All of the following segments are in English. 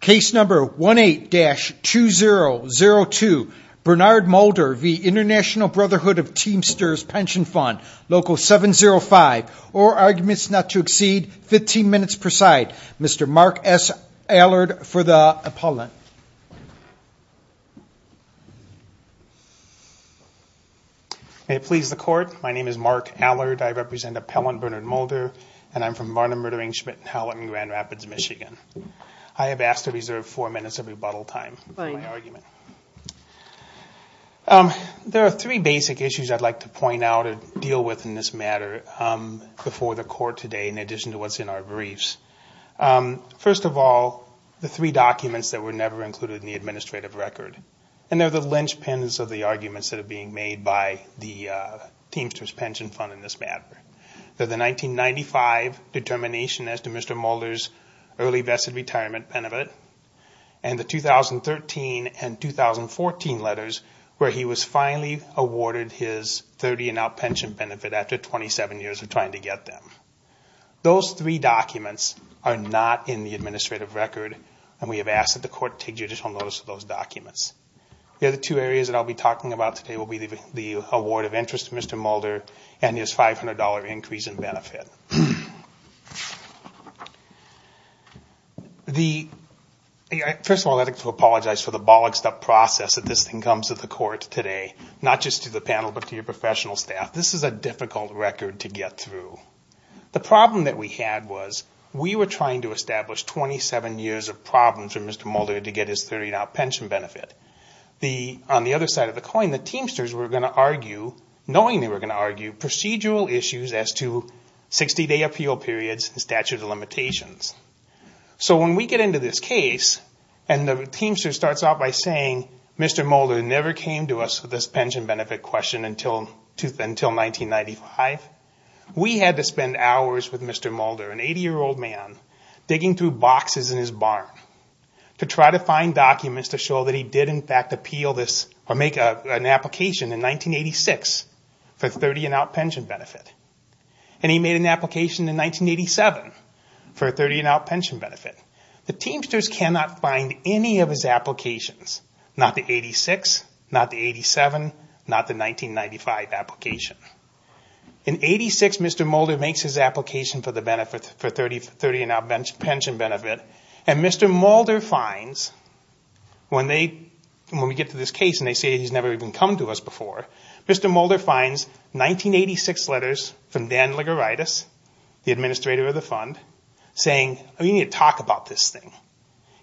Case number 18-2002. Bernard Mulder v. Int'l Brotherhood of Teamsters Pension Fund, Local 705. All arguments not to exceed 15 minutes per side. Mr. Mark S. Allard for the appellant. May it please the Court. My name is Mark Allard. I represent Appellant Bernard Mulder and I'm from Varner Murdering Schmidt and Howlett in Grand Rapids, Michigan. I have asked to reserve four minutes of rebuttal time for my argument. There are three basic issues I'd like to point out and deal with in this matter before the Court today in addition to what's in our briefs. First of all, the three documents that were never included in the administrative record. And they're the linchpins of the arguments that are being made by the Teamsters Pension Fund in this matter. They're the 1995 determination as to Mr. Mulder's early vested retirement benefit and the 2013 and 2014 letters where he was finally awarded his 30 and out pension benefit after 27 years of trying to get them. Those three documents are not in the administrative record and we have asked that the Court take judicial notice of those documents. The other two areas that I'll be talking about today will be the award of interest to Mr. Mulder and his $500 increase in benefit. First of all, I'd like to apologize for the bollocksed up process that this thing comes to the Court today, not just to the panel but to your professional staff. This is a difficult record to get through. The problem that we had was we were trying to establish 27 years of problems for Mr. Mulder to get his 30 and out pension benefit. On the other side of the coin, the Teamsters were going to argue, knowing they were going to argue, procedural issues as to 60-day appeal periods and statute of limitations. So when we get into this case and the Teamster starts out by saying, Mr. Mulder never came to us with this pension benefit question until 1995, we had to spend hours with Mr. Mulder, an 80-year-old man, digging through boxes in his barn to try to find documents to show that he did in fact make an application in 1986 for a 30 and out pension benefit. And he made an application in 1987 for a 30 and out pension benefit. The Teamsters cannot find any of his applications, not the 86, not the 87, not the 1995 application. In 86, Mr. Mulder makes his application for the 30 and out pension benefit and Mr. Mulder finds, when we get to this case and they say he's never even come to us before, Mr. Mulder finds 1986 letters from Dan Liguritis, the administrator of the fund, saying you need to talk about this thing.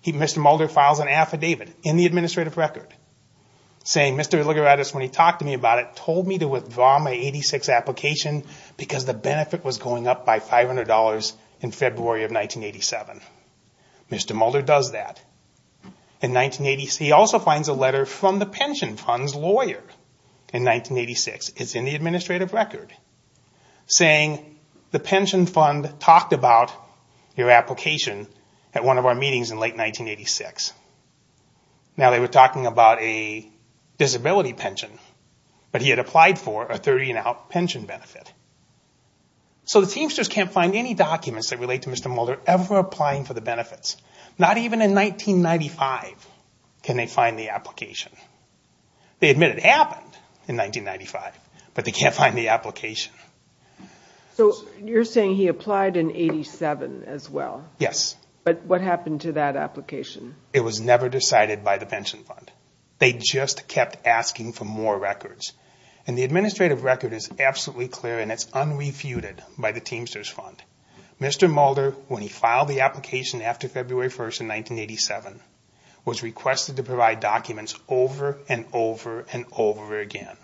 Mr. Mulder files an affidavit in the administrative record saying Mr. Liguritis, when he talked to me about it, told me to withdraw my 86 application because the benefit was going up by $500 in February of 1987. Mr. Mulder does that. He also finds a letter from the pension fund's lawyer in 1986, it's in the administrative record, saying the pension fund talked about your application at one of our meetings in late 1986. Now they were talking about a disability pension, but he had applied for a 30 and out pension benefit. So the Teamsters can't find any documents that relate to Mr. Mulder ever applying for the benefits. Not even in 1995 can they find the application. They admit it happened in 1995, but they can't find the application. So you're saying he applied in 1987 as well? Yes. But what happened to that application? It was never decided by the pension fund. They just kept asking for more records. And the administrative record is absolutely clear and it's unrefuted by the Teamsters fund. Mr. Mulder, when he filed the application after February 1st in 1987, was requested to provide documents over and over and over again.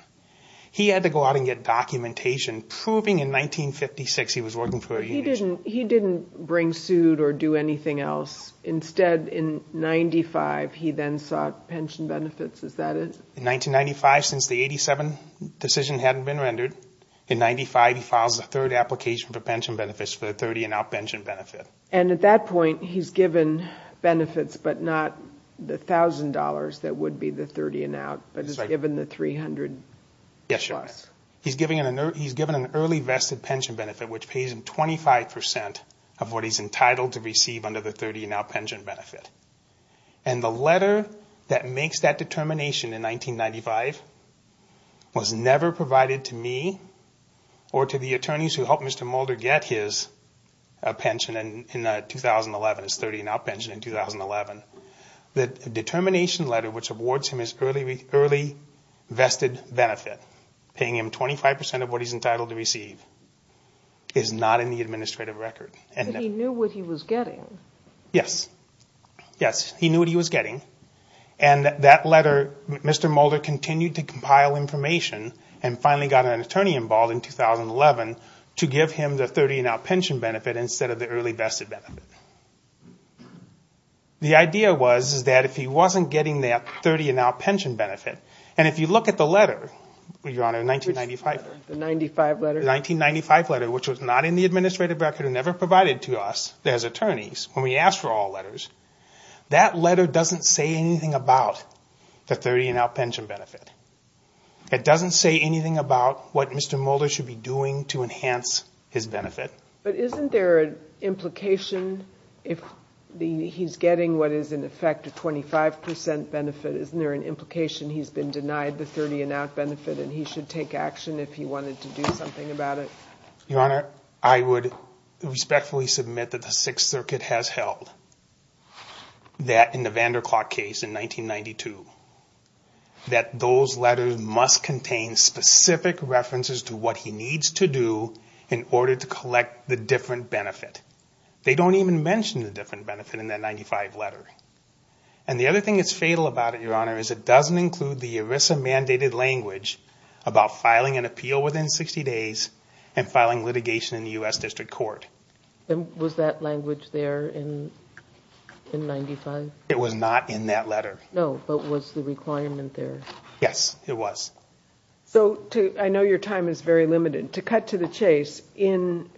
He had to go out and get documentation proving in 1956 he was working for a union. He didn't bring suit or do anything else. Instead, in 1995, he then sought pension benefits. Is that it? In 1995, since the 1987 decision hadn't been rendered, in 1995 he files a third application for pension benefits for the 30 and out pension benefit. And at that point, he's given benefits, but not the $1,000 that would be the 30 and out, but he's given the $300 plus. He's given an early vested pension benefit, which pays him 25% of what he's entitled to receive under the 30 and out pension benefit. And the letter that makes that determination in 1995 was never provided to me or to the attorneys who helped Mr. Mulder get his pension in 2011, his 30 and out pension in 2011. The determination letter which awards him his early vested benefit, paying him 25% of what he's entitled to receive, is not in the administrative record. But he knew what he was getting. Yes. Yes, he knew what he was getting. And that letter, Mr. Mulder continued to compile information and finally got an attorney involved in 2011 to give him the 30 and out pension benefit instead of the early vested benefit. The idea was that if he wasn't getting that 30 and out pension benefit, and if you look at the letter, Your Honor, 1995. The 95 letter? The 1995 letter, which was not in the administrative record and never provided to us as attorneys, when we asked for all letters, that letter doesn't say anything about the 30 and out pension benefit. It doesn't say anything about what Mr. Mulder should be doing to enhance his benefit. But isn't there an implication if he's getting what is in effect a 25% benefit, isn't there an implication he's been denied the 30 and out benefit and he should take action if he wanted to do something about it? Your Honor, I would respectfully submit that the Sixth Circuit has held that in the Vanderklot case in 1992, that those letters must contain specific references to what he needs to do in order to collect the different benefit. They don't even mention the different benefit in that 95 letter. And the other thing that's fatal about it, Your Honor, is it doesn't include the ERISA mandated language about filing an appeal within 60 days and filing litigation in the U.S. District Court. Was that language there in 95? It was not in that letter. No, but was the requirement there? Yes, it was. So I know your time is very limited. To cut to the chase, in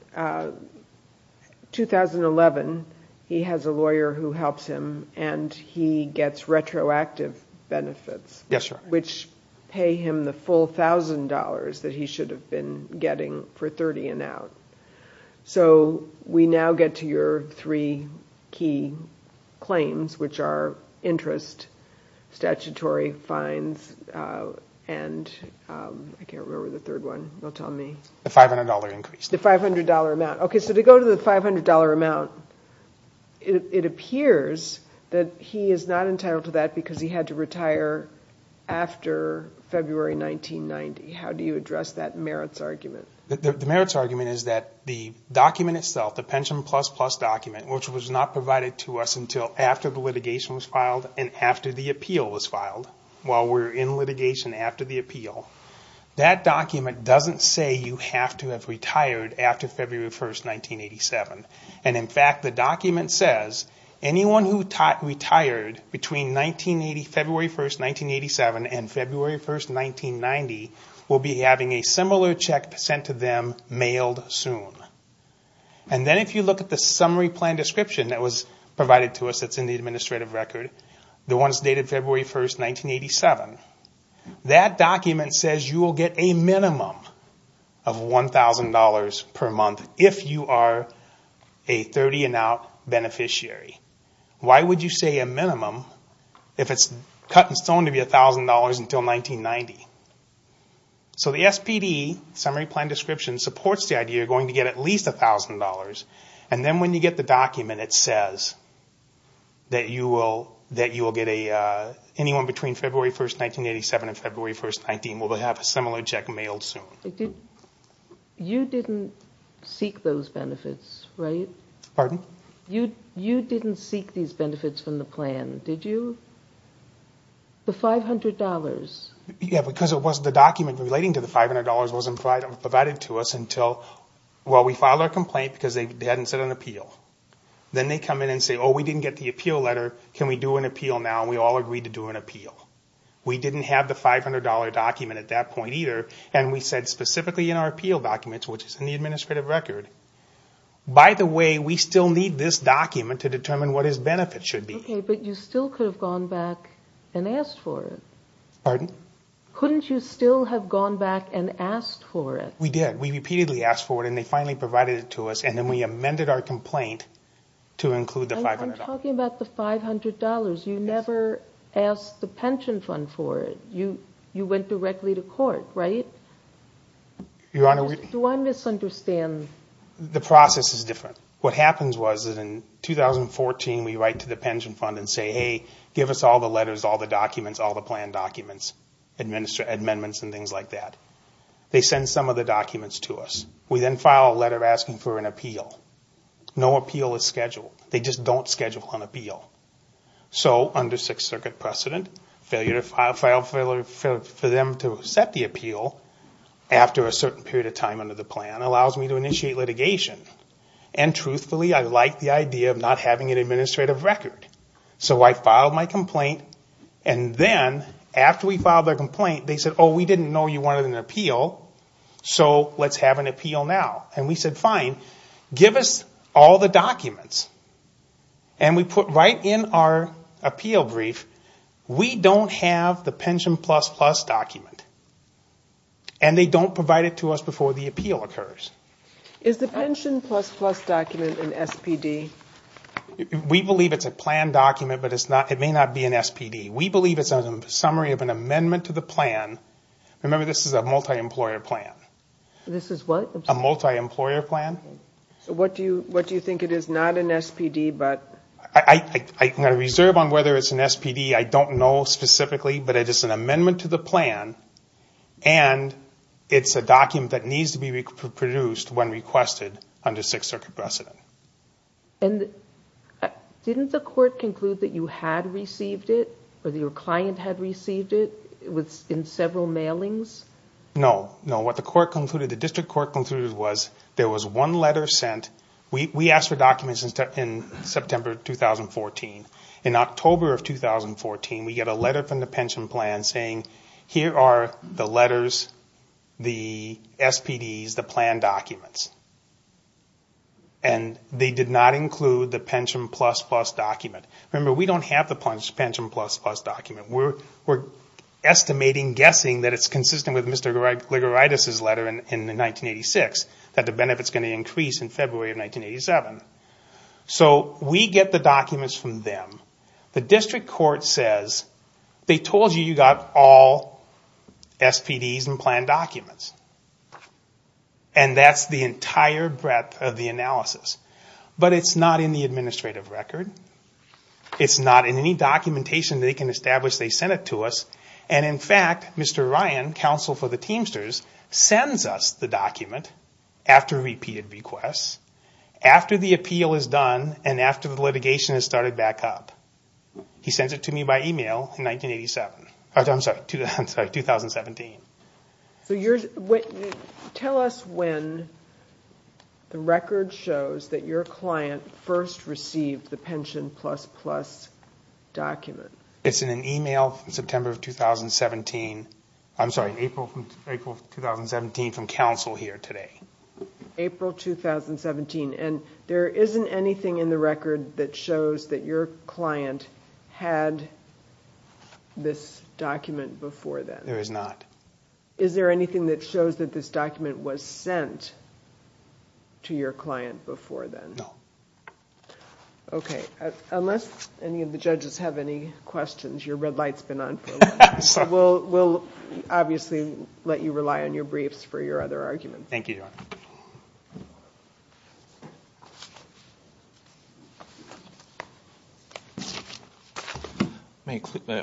2011, he has a lawyer who helps him and he gets retroactive benefits. Yes, Your Honor. Which pay him the full $1,000 that he should have been getting for 30 and out. So we now get to your three key claims, which are interest, statutory fines, and I can't remember the third one. You'll tell me. The $500 increase. The $500 amount. Okay, so to go to the $500 amount, it appears that he is not entitled to that because he had to retire after February 1990. How do you address that merits argument? The merits argument is that the document itself, the Pension Plus Plus document, which was not provided to us until after the litigation was filed and after the appeal was filed, while we're in litigation after the appeal, that document doesn't say you have to have retired after February 1, 1987. In fact, the document says anyone who retired between February 1, 1987 and February 1, 1990 will be having a similar check sent to them mailed soon. And then if you look at the summary plan description that was provided to us that's in the administrative record, the ones dated February 1, 1987, that document says you will get a minimum of $1,000 per month if you are a 30 and out beneficiary. Why would you say a minimum if it's cut in stone to be $1,000 until 1990? So the SPD, Summary Plan Description, supports the idea you're going to get at least $1,000. And then when you get the document, it says that anyone between February 1, 1987 and February 1, 1990 will have a similar check mailed soon. You didn't seek those benefits, right? Pardon? You didn't seek these benefits from the plan, did you? The $500. Yeah, because the document relating to the $500 wasn't provided to us until, well, we filed our complaint because they hadn't sent an appeal. Then they come in and say, oh, we didn't get the appeal letter. Can we do an appeal now? And we all agreed to do an appeal. We didn't have the $500 document at that point either. And we said specifically in our appeal documents, which is in the administrative record, by the way, we still need this document to determine what his benefits should be. Okay, but you still could have gone back and asked for it. Pardon? Couldn't you still have gone back and asked for it? We did. We repeatedly asked for it, and they finally provided it to us, and then we amended our complaint to include the $500. I'm talking about the $500. You never asked the pension fund for it. You went directly to court, right? Your Honor, we – Do I misunderstand? The process is different. What happens was in 2014 we write to the pension fund and say, hey, give us all the letters, all the documents, all the plan documents, amendments and things like that. They send some of the documents to us. We then file a letter asking for an appeal. No appeal is scheduled. They just don't schedule an appeal. So under Sixth Circuit precedent, failure for them to accept the appeal after a certain period of time under the plan allows me to initiate litigation, and truthfully, I like the idea of not having an administrative record. So I filed my complaint, and then after we filed our complaint, they said, oh, we didn't know you wanted an appeal, so let's have an appeal now. And we said, fine. Give us all the documents. And we put right in our appeal brief, we don't have the Pension Plus Plus document, and they don't provide it to us before the appeal occurs. Is the Pension Plus Plus document an SPD? We believe it's a plan document, but it may not be an SPD. We believe it's a summary of an amendment to the plan. Remember, this is a multi-employer plan. This is what? A multi-employer plan. So what do you think it is? Not an SPD, but? I'm going to reserve on whether it's an SPD. I don't know specifically, but it is an amendment to the plan, and it's a document that needs to be produced when requested under Sixth Circuit precedent. And didn't the court conclude that you had received it, or that your client had received it, in several mailings? No. No, what the district court concluded was there was one letter sent. We asked for documents in September 2014. In October of 2014, we got a letter from the pension plan saying, here are the letters, the SPDs, the plan documents. And they did not include the Pension Plus Plus document. Remember, we don't have the Pension Plus Plus document. We're estimating, guessing, that it's consistent with Mr. Gligoritis' letter in 1986, that the benefit's going to increase in February of 1987. So we get the documents from them. The district court says, they told you you got all SPDs and plan documents. And that's the entire breadth of the analysis. But it's not in the administrative record. It's not in any documentation they can establish they sent it to us. And in fact, Mr. Ryan, counsel for the Teamsters, sends us the document after repeated requests, after the appeal is done, and after the litigation has started back up. He sends it to me by email in 1987. I'm sorry, 2017. So tell us when the record shows that your client first received the pension plan. The Pension Plus Plus document. It's in an email from September of 2017. I'm sorry, April 2017 from counsel here today. April 2017. And there isn't anything in the record that shows that your client had this document before then. There is not. Is there anything that shows that this document was sent to your client before then? No. Unless any of the judges have any questions, your red light's been on for a while. We'll obviously let you rely on your briefs for your other arguments. Thank you, Your Honor.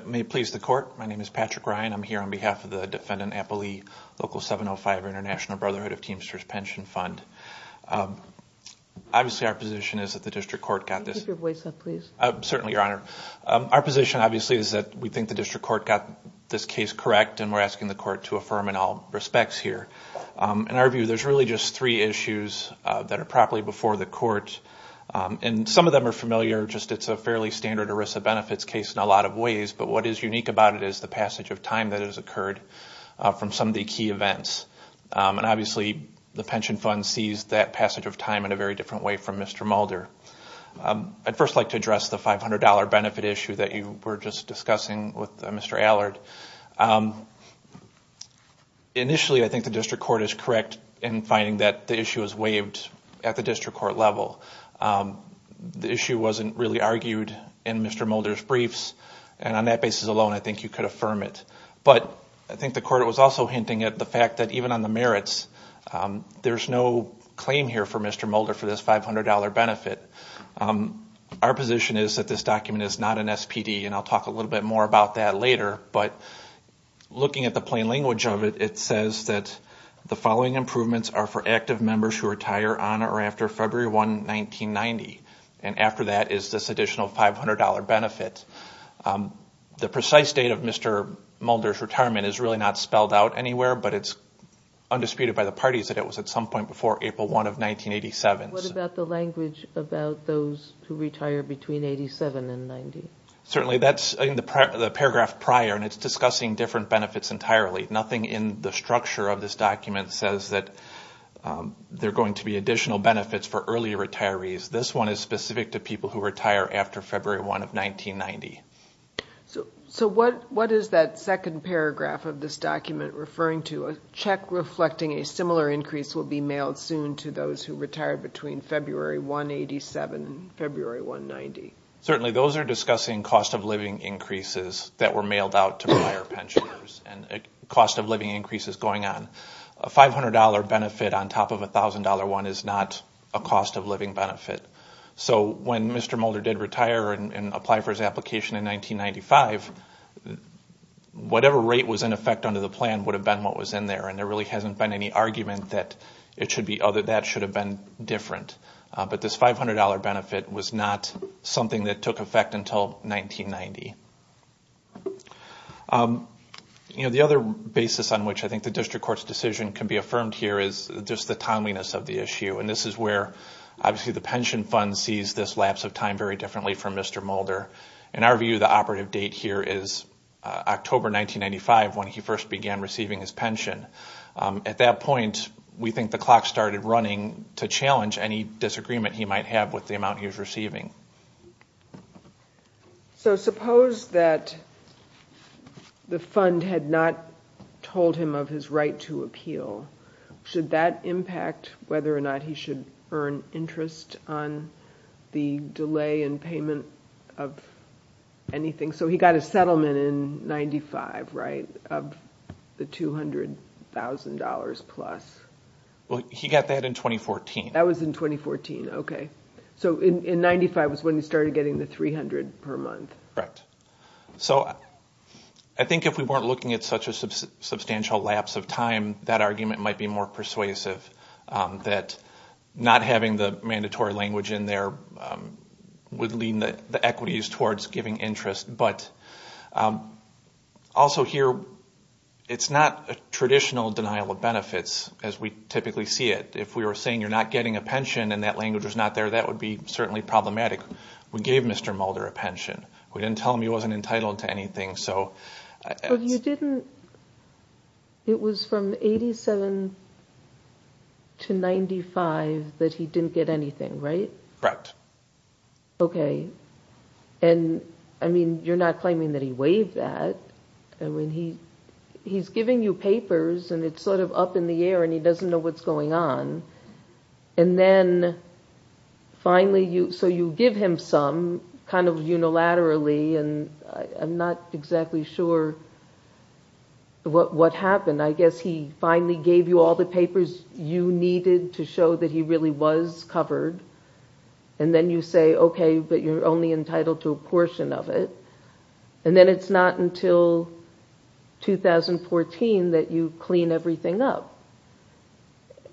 May it please the Court, my name is Patrick Ryan. I'm here on behalf of the Defendant Appley Local 705 or International Brotherhood of Teamsters Pension Fund. Obviously our position is that the District Court got this. Could you raise your voice up, please? Certainly, Your Honor. Our position obviously is that we think the District Court got this case correct and we're asking the Court to affirm in all respects here. In our view, there's really just three issues that are properly before the Court. And some of them are familiar. Just it's a fairly standard ERISA benefits case in a lot of ways. But what is unique about it is the passage of time that has occurred from some of the key events. And obviously the Pension Fund sees that passage of time in a very different way from Mr. Mulder. I'd first like to address the $500 benefit issue that you were just discussing with Mr. Allard. Initially, I think the District Court is correct in finding that the issue is waived at the District Court level. The issue wasn't really argued in Mr. Mulder's briefs. And on that basis alone, I think you could affirm it. But I think the Court was also hinting at the fact that even on the merits, there's no claim here for Mr. Mulder for this $500 benefit. Our position is that this document is not an SPD. And I'll talk a little bit more about that later. But looking at the plain language of it, it says that the following improvements are for active members who retire on or after February 1, 1990. And after that is this additional $500 benefit. The precise date of Mr. Mulder's retirement is really not spelled out anywhere. But it's undisputed by the parties that it was at some point before April 1 of 1987. What about the language about those who retire between 1987 and 1990? Certainly, that's in the paragraph prior, and it's discussing different benefits entirely. Nothing in the structure of this document says that there are going to be additional benefits for early retirees. This one is specific to people who retire after February 1 of 1990. So what is that second paragraph of this document referring to? A check reflecting a similar increase will be mailed soon to those who retire between February 1, 1987 and February 1, 1990. Certainly, those are discussing cost-of-living increases that were mailed out to prior pensioners and cost-of-living increases going on. A $500 benefit on top of a $1,000 one is not a cost-of-living benefit. So when Mr. Mulder did retire and apply for his application in 1995, whatever rate was in effect under the plan would have been what was in there. And there really hasn't been any argument that that should have been different. But this $500 benefit was not something that took effect until 1990. The other basis on which I think the District Court's decision can be affirmed here is just the timeliness of the issue. And this is where, obviously, the pension fund sees this lapse of time very differently from Mr. Mulder. In our view, the operative date here is October 1995 when he first began receiving his pension. At that point, we think the clock started running to challenge any disagreement he might have with the amount he was receiving. So suppose that the fund had not told him of his right to appeal. Should that impact whether or not he should earn interest on the delay in payment of anything? So he got a settlement in 1995, right, of the $200,000-plus? Well, he got that in 2014. That was in 2014. Okay. So in 1995 was when he started getting the $300,000 per month. Correct. So I think if we weren't looking at such a substantial lapse of time, it might be more persuasive that not having the mandatory language in there would lean the equities towards giving interest. But also here, it's not a traditional denial of benefits as we typically see it. If we were saying you're not getting a pension and that language was not there, that would be certainly problematic. We gave Mr. Mulder a pension. We didn't tell him he wasn't entitled to anything. But it was from 1987 to 1995 that he didn't get anything, right? Correct. Okay. And you're not claiming that he waived that. He's giving you papers and it's sort of up in the air and he doesn't know what's going on. And then finally, so you give him some kind of unilaterally and I'm not exactly sure what happened. I guess he finally gave you all the papers you needed to show that he really was covered. And then you say, okay, but you're only entitled to a portion of it. And then it's not until 2014 that you clean everything up.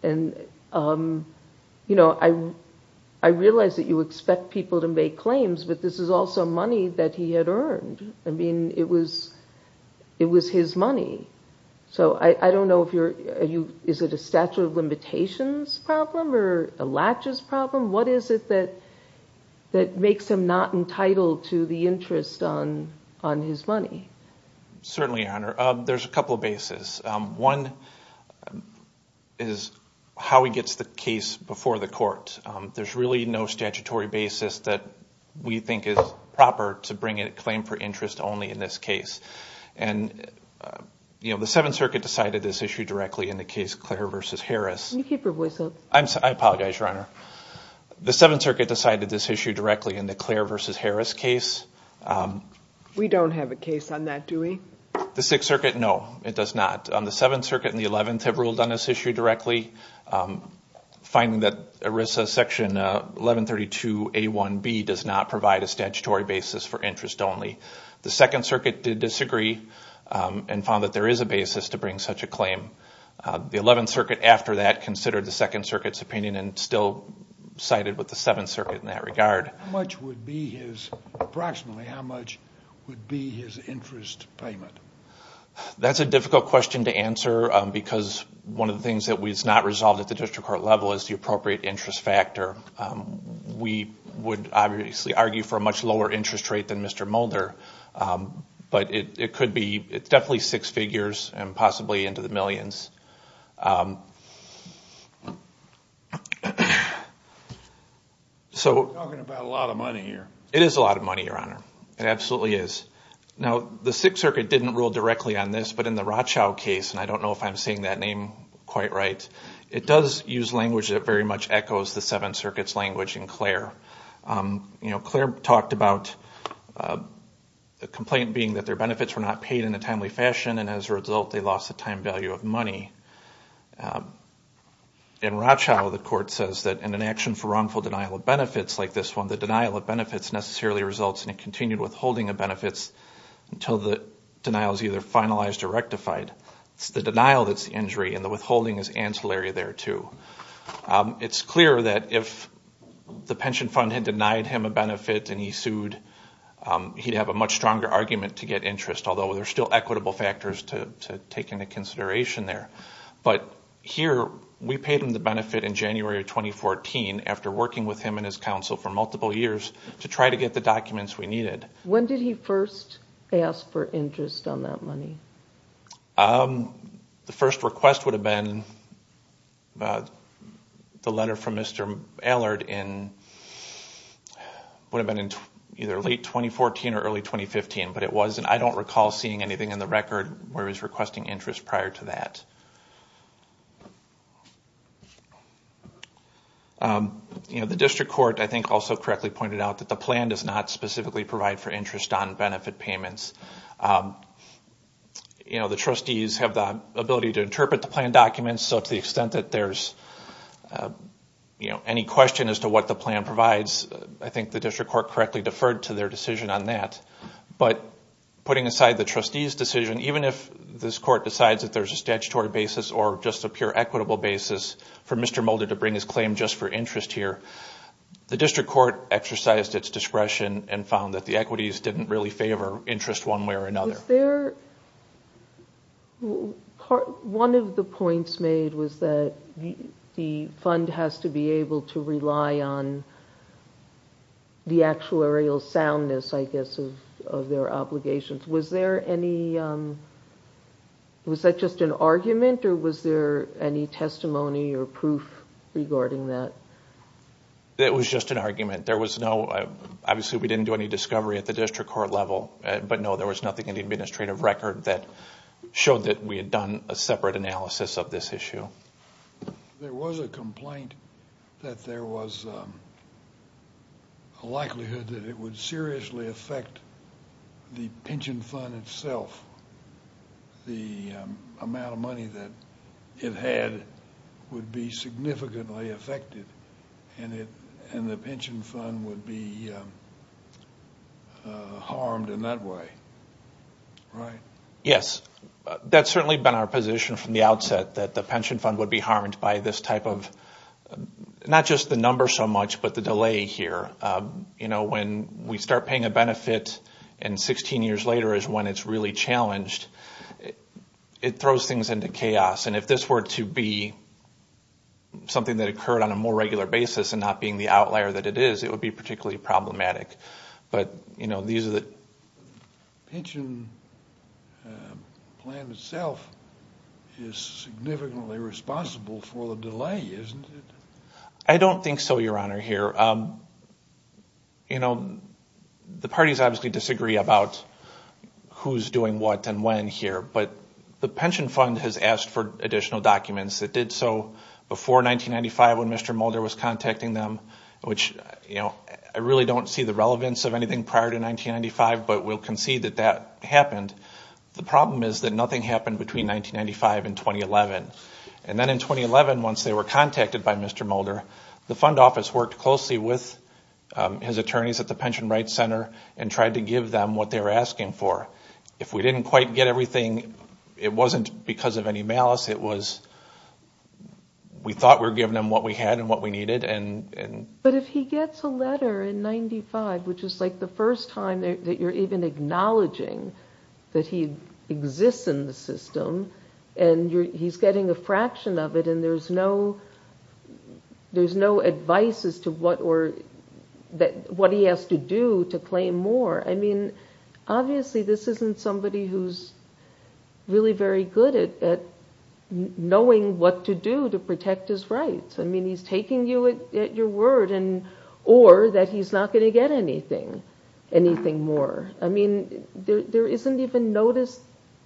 And I realize that you expect people to make claims, but this is also money that he had earned. I mean, it was his money. So I don't know if you're, is it a statute of limitations problem or a latches problem? What is it that makes him not entitled to the interest on his money? Certainly, Your Honor. There's a couple of bases. One is how he gets the case before the court. There's really no statutory basis that we think is proper to bring a claim for interest only in this case. And the Seventh Circuit decided this issue directly in the case Claire v. Harris. Can you keep your voice up? I apologize, Your Honor. The Seventh Circuit decided this issue directly in the Claire v. Harris case. We don't have a case on that, do we? The Sixth Circuit, no, it does not. The Seventh Circuit and the Eleventh have ruled on this issue directly. Finding that ERISA Section 1132A1B does not provide a statutory basis for interest only. The Second Circuit did disagree and found that there is a basis to bring such a claim. The Eleventh Circuit, after that, considered the Second Circuit's opinion and still sided with the Seventh Circuit in that regard. Approximately how much would be his interest payment? That's a difficult question to answer because one of the things that was not resolved at the district court level is the appropriate interest factor. We would obviously argue for a much lower interest rate than Mr. Mulder. But it's definitely six figures and possibly into the millions. We're talking about a lot of money here. It is a lot of money, Your Honor. It absolutely is. Now, the Sixth Circuit didn't rule directly on this, but in the Rothschild case, and I don't know if I'm saying that name quite right, it does use language that very much echoes the Seventh Circuit's language in Claire. Claire talked about the complaint being that their benefits were not paid in a timely fashion and as a result they lost the time value of money. In Rothschild, the court says that in an action for wrongful denial of benefits like this one, the denial of benefits necessarily results in a continued withholding of benefits until the denial is either finalized or rectified. It's the denial that's the injury and the withholding is ancillary there, too. It's clear that if the pension fund had denied him a benefit and he sued, he'd have a much stronger argument to get interest, although there are still equitable factors to take into consideration there. But here, we paid him the benefit in January of 2014 after working with him and his counsel for multiple years to try to get the documents we needed. When did he first ask for interest on that money? The first request would have been the letter from Mr. Allard in either late 2014 or early 2015, but I don't recall seeing anything in the record where he was requesting interest prior to that. The district court also correctly pointed out that the plan does not specifically provide for interest on benefit payments. The trustees have the ability to interpret the plan documents, so to the extent that there's any question as to what the plan provides, I think the district court correctly deferred to their decision on that. Putting aside the trustees' decision, even if this court decides that there's a statutory basis or just a pure equitable basis for Mr. Mulder to bring his claim just for interest here, the district court exercised its discretion and found that the equities didn't really favor interest one way or another. One of the points made was that the fund has to be able to rely on the actuarial soundness of their obligations. Was that just an argument or was there any testimony or proof regarding that? It was just an argument. Obviously we didn't do any discovery at the district court level, but no, there was nothing in the administrative record that showed that we had done a separate analysis of this issue. There was a complaint that there was a likelihood that it would seriously affect the pension fund itself. The amount of money that it had would be significantly affected and the pension fund would be harmed in that way, right? Yes. That's certainly been our position from the outset, that the pension fund would be harmed by this type of, not just the number so much, but the delay here. When we start paying a benefit and 16 years later is when it's really challenged, it throws things into chaos. If this were to be something that occurred on a more regular basis and not being the outlier that it is, it would be particularly problematic. The pension plan itself is significantly responsible for the delay, isn't it? I don't think so, Your Honor. The parties obviously disagree about who's doing what and when here, but the pension fund has asked for additional documents. It did so before 1995 when Mr. Mulder was contacting them, which I really don't see the relevance of anything prior to 1995, but we'll concede that that happened. The problem is that nothing happened between 1995 and 2011. Then in 2011, once they were contacted by Mr. Mulder, the fund office worked closely with his attorneys at the Pension Rights Center and tried to give them what they were asking for. If we didn't quite get everything, it wasn't because of any malice. We thought we were giving them what we had and what we needed. But if he gets a letter in 1995, which is the first time that you're even acknowledging that he exists in the system, and he's getting a fraction of it, and there's no advice as to what he has to do to claim more. Obviously, this isn't somebody who's really very good at knowing what to do to protect his rights. He's taking you at your word, or that he's not going to get anything, anything more. There isn't even notice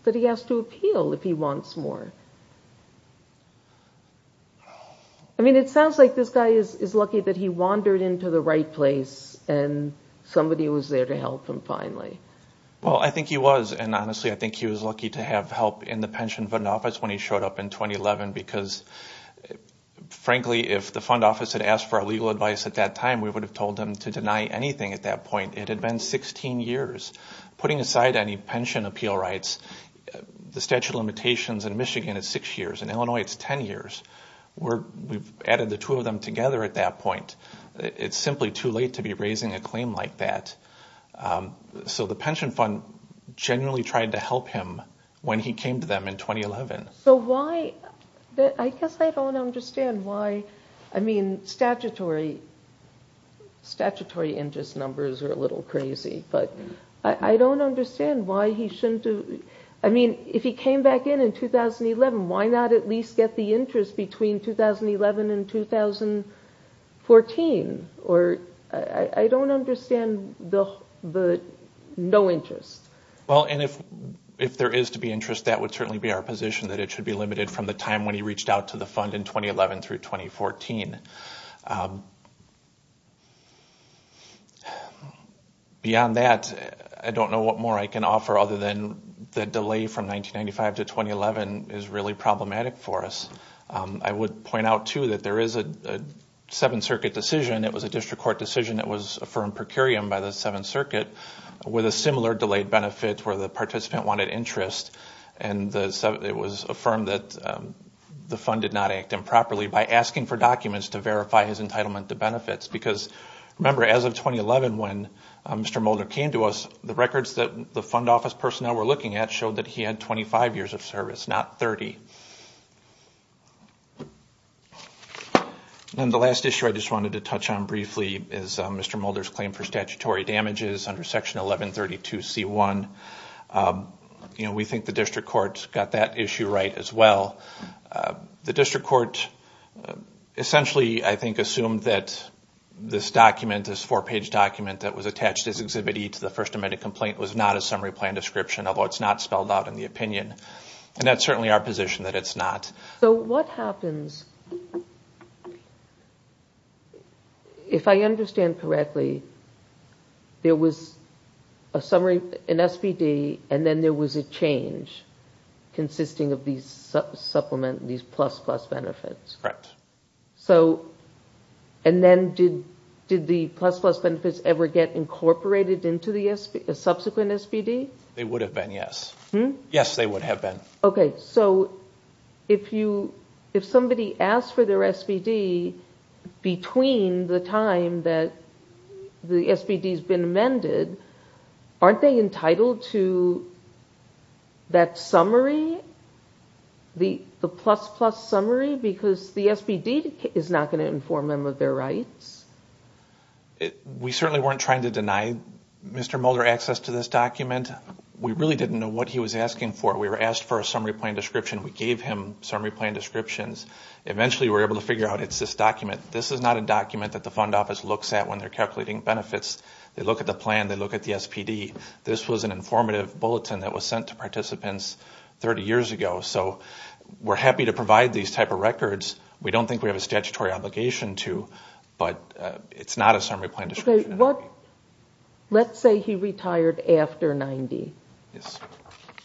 that he has to appeal if he wants more. I mean, it sounds like this guy is lucky that he wandered into the right place and somebody was there to help him, finally. Well, I think he was, and honestly, I think he was lucky to have help in the Pension Fund Office when he showed up in 2011. Because, frankly, if the fund office had asked for our legal advice at that time, we would have told them to deny anything at that point. It had been 16 years. Putting aside any pension appeal rights, the statute of limitations in Michigan is 6 years. In Illinois, it's 10 years. We've added the two of them together at that point. It's simply too late to be raising a claim like that. So the Pension Fund genuinely tried to help him when he came to them in 2011. So why, I guess I don't understand why, I mean, statutory interest numbers are a little crazy, but I don't understand why he shouldn't do, I mean, if he came back in in 2011, why not at least get the interest between 2011 and 2014? I don't understand the no interest. Well, and if there is to be interest, that would certainly be our position, that it should be limited from the time when he reached out to the fund in 2011 through 2014. Beyond that, I don't know what more I can offer other than the delay from 1995 to 2011 is really problematic for us. I would point out, too, that there is a 7th Circuit decision, it was a district court decision that was affirmed per curiam by the 7th Circuit with a similar delayed benefit where the participant wanted interest and it was affirmed that the fund did not act improperly by asking for documents to verify his entitlement to benefits. Because, remember, as of 2011 when Mr. Mulder came to us, the records that the fund office personnel were looking at showed that he had 25 years of service, not 30. And the last issue I just wanted to touch on briefly is Mr. Mulder's claim for statutory damages under Section 1132C1. We think the district court got that issue right as well. The district court essentially, I think, assumed that this document, this four-page document that was attached as Exhibit E to the First Amendment complaint was not a summary plan description, although it's not spelled out in the opinion. And that's certainly our position, that it's not. But what happens, if I understand correctly, there was a summary, an SBD, and then there was a change consisting of these supplement, these plus-plus benefits. Correct. And then did the plus-plus benefits ever get incorporated into the subsequent SBD? They would have been, yes. Yes, they would have been. Okay, so if somebody asked for their SBD between the time that the SBD has been amended, aren't they entitled to that summary, the plus-plus summary, because the SBD is not going to inform them of their rights? We certainly weren't trying to deny Mr. Mulder access to this document. And we really didn't know what he was asking for. We were asked for a summary plan description. We gave him summary plan descriptions. Eventually we were able to figure out it's this document. This is not a document that the fund office looks at when they're calculating benefits. They look at the plan, they look at the SBD. This was an informative bulletin that was sent to participants 30 years ago. So we're happy to provide these type of records. We don't think we have a statutory obligation to, but it's not a summary plan description. Let's say he retired after 90. Yes.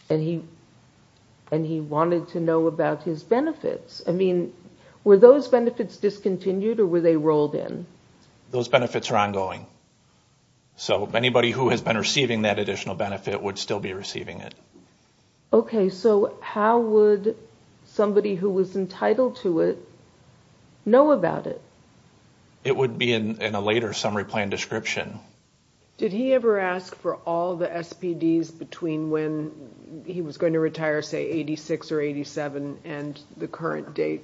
And he wanted to know about his benefits. I mean, were those benefits discontinued or were they rolled in? Those benefits are ongoing. So anybody who has been receiving that additional benefit would still be receiving it. Okay, so how would somebody who was entitled to it know about it? It would be in a later summary plan description. Did he ever ask for all the SBDs between when he was going to retire, say, 86 or 87, and the current date,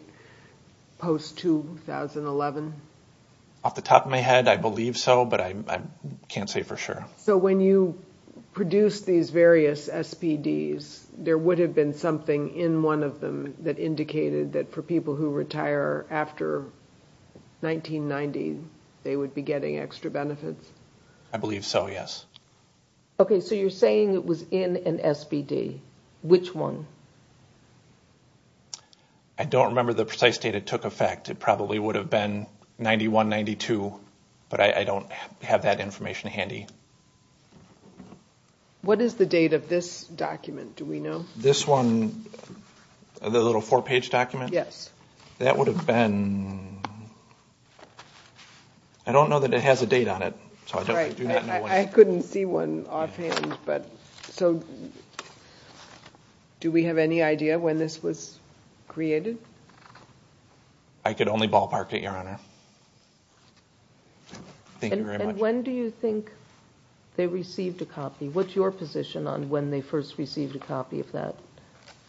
post-2011? Off the top of my head, I believe so, but I can't say for sure. So when you produced these various SBDs, there would have been something in one of them that indicated that for people who retire after 1990, they would be getting extra benefits? I believe so, yes. Okay, so you're saying it was in an SBD. Which one? I don't remember the precise date it took effect. It probably would have been 91, 92, but I don't have that information handy. What is the date of this document, do we know? This one, the little four-page document? Yes. That would have been, I don't know that it has a date on it. I couldn't see one offhand. So do we have any idea when this was created? I could only ballpark it, Your Honor. And when do you think they received a copy? What's your position on when they first received a copy of that?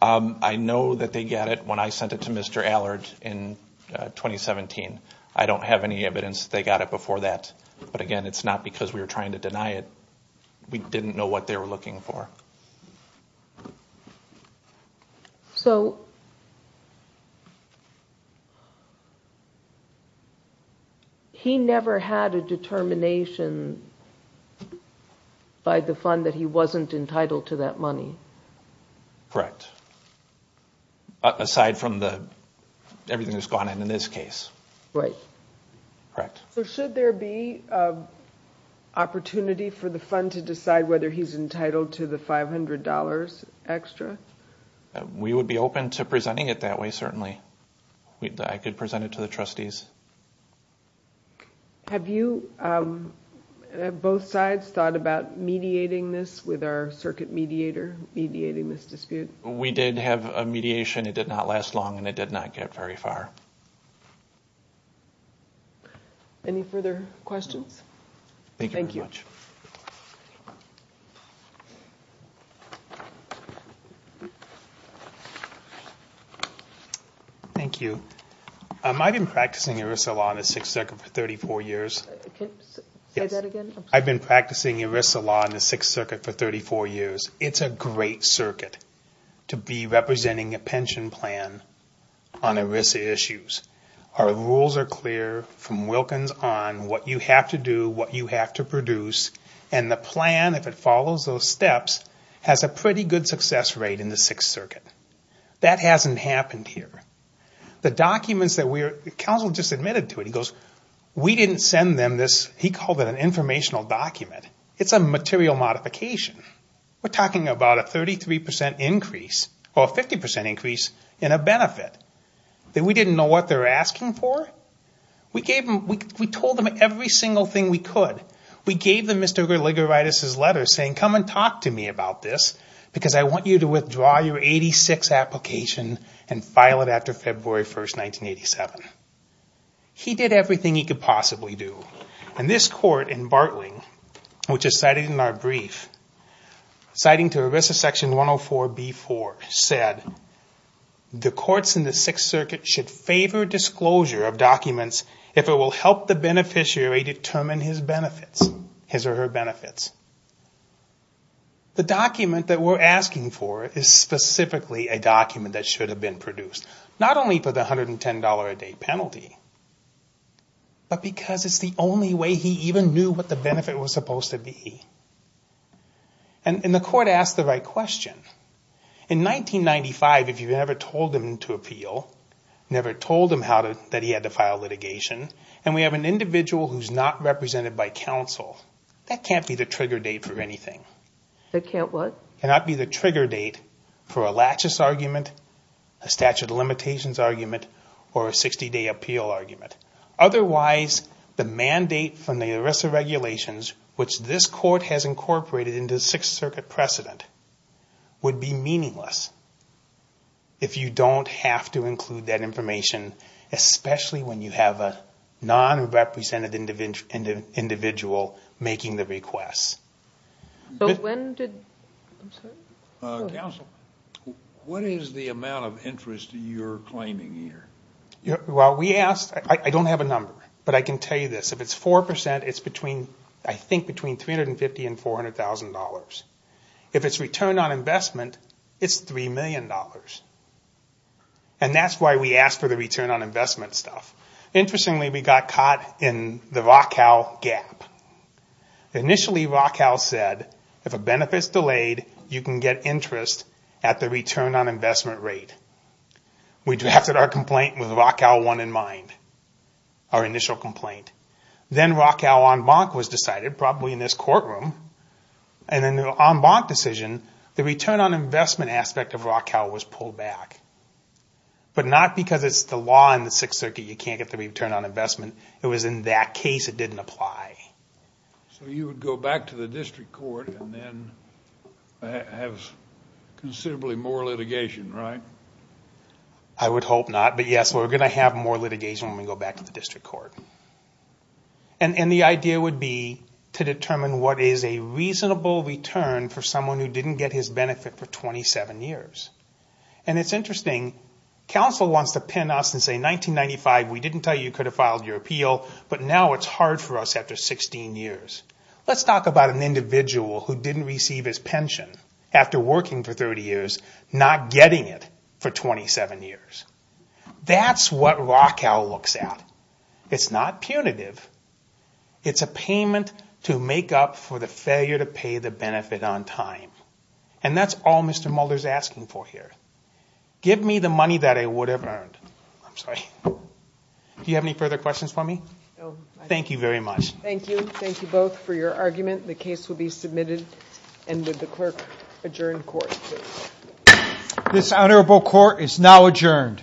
I know that they got it when I sent it to Mr. Allard in 2017. I don't have any evidence they got it before that. But again, it's not because we were trying to deny it. We didn't know what they were looking for. So, he never had a determination by the fund that he wasn't entitled to that money? Correct. Aside from everything that's gone in in this case. Right. So should there be an opportunity for the fund to decide whether he's entitled to the $500 extra? We would be open to presenting it that way, certainly. I could present it to the trustees. Have you, both sides, thought about mediating this with our circuit mediator, mediating this dispute? We did have a mediation. It did not last long and it did not get very far. Any further questions? Thank you very much. Thank you. I've been practicing ERISA law in the 6th Circuit for 34 years. Say that again? I've been practicing ERISA law in the 6th Circuit for 34 years. It's a great circuit to be representing a pension plan on ERISA issues. Our rules are clear from Wilkins on what you have to do, what you have to produce. And the plan, if it follows those steps, has a pretty good success rate in the 6th Circuit. That hasn't happened here. The documents that we're, the counsel just admitted to it, he goes, we didn't send them this, he called it an informational document. It's a material modification. We're talking about a 33% increase, or a 50% increase in a benefit. That we didn't know what they were asking for? We gave them, we told them every single thing we could. We gave them Mr. Gerligeritis' letter saying come and talk to me about this because I want you to withdraw your 86 application and file it after February 1st, 1987. He did everything he could possibly do. And this court in Bartling, which is cited in our brief, citing to ERISA section 104B4, said the courts in the 6th Circuit should favor disclosure of documents if it will help the beneficiary determine his benefits, his or her benefits. The document that we're asking for is specifically a document that should have been produced. Not only for the $110 a day penalty, but because it's the only way he even knew what the benefit was supposed to be. And the court asked the right question. In 1995, if you never told him to appeal, never told him how to, that he had to file litigation, and we have an individual who's not represented by counsel, that can't be the trigger date for anything. That can't what? Cannot be the trigger date for a laches argument, a statute of limitations argument, or a 60-day appeal argument. Otherwise, the mandate from the ERISA regulations, which this court has incorporated into the 6th Circuit precedent, would be meaningless if you don't have to include that information, especially when you have a non-represented individual making the request. So when did, I'm sorry? Counsel, what is the amount of interest you're claiming here? Well, we asked, I don't have a number, but I can tell you this. If it's 4%, it's between, I think between $350,000 and $400,000. If it's return on investment, it's $3 million. And that's why we asked for the return on investment stuff. Interestingly, we got caught in the Rockwell gap. Initially, Rockwell said, if a benefit's delayed, you can get interest at the return on investment rate. We drafted our complaint with Rockwell 1 in mind, our initial complaint. Then Rockwell en banc was decided, probably in this courtroom. And in the en banc decision, the return on investment aspect of Rockwell was pulled back. But not because it's the law in the 6th Circuit, you can't get the return on investment. It was in that case it didn't apply. So you would go back to the district court and then have considerably more litigation, right? I would hope not, but yes, we're going to have more litigation when we go back to the district court. And the idea would be to determine what is a reasonable return for someone who didn't get his benefit for 27 years. And it's interesting, counsel wants to pin us and say, in 1995 we didn't tell you you could have filed your appeal, but now it's hard for us after 16 years. Let's talk about an individual who didn't receive his pension after working for 30 years, not getting it for 27 years. That's what Rockwell looks at. It's not punitive. It's a payment to make up for the failure to pay the benefit on time. And that's all Mr. Mulder's asking for here. Give me the money that I would have earned. Thank you very much. Do you have any further questions for me? Thank you very much. Thank you. Thank you both for your argument. The case will be submitted and with the clerk adjourn court. This honorable court is now adjourned.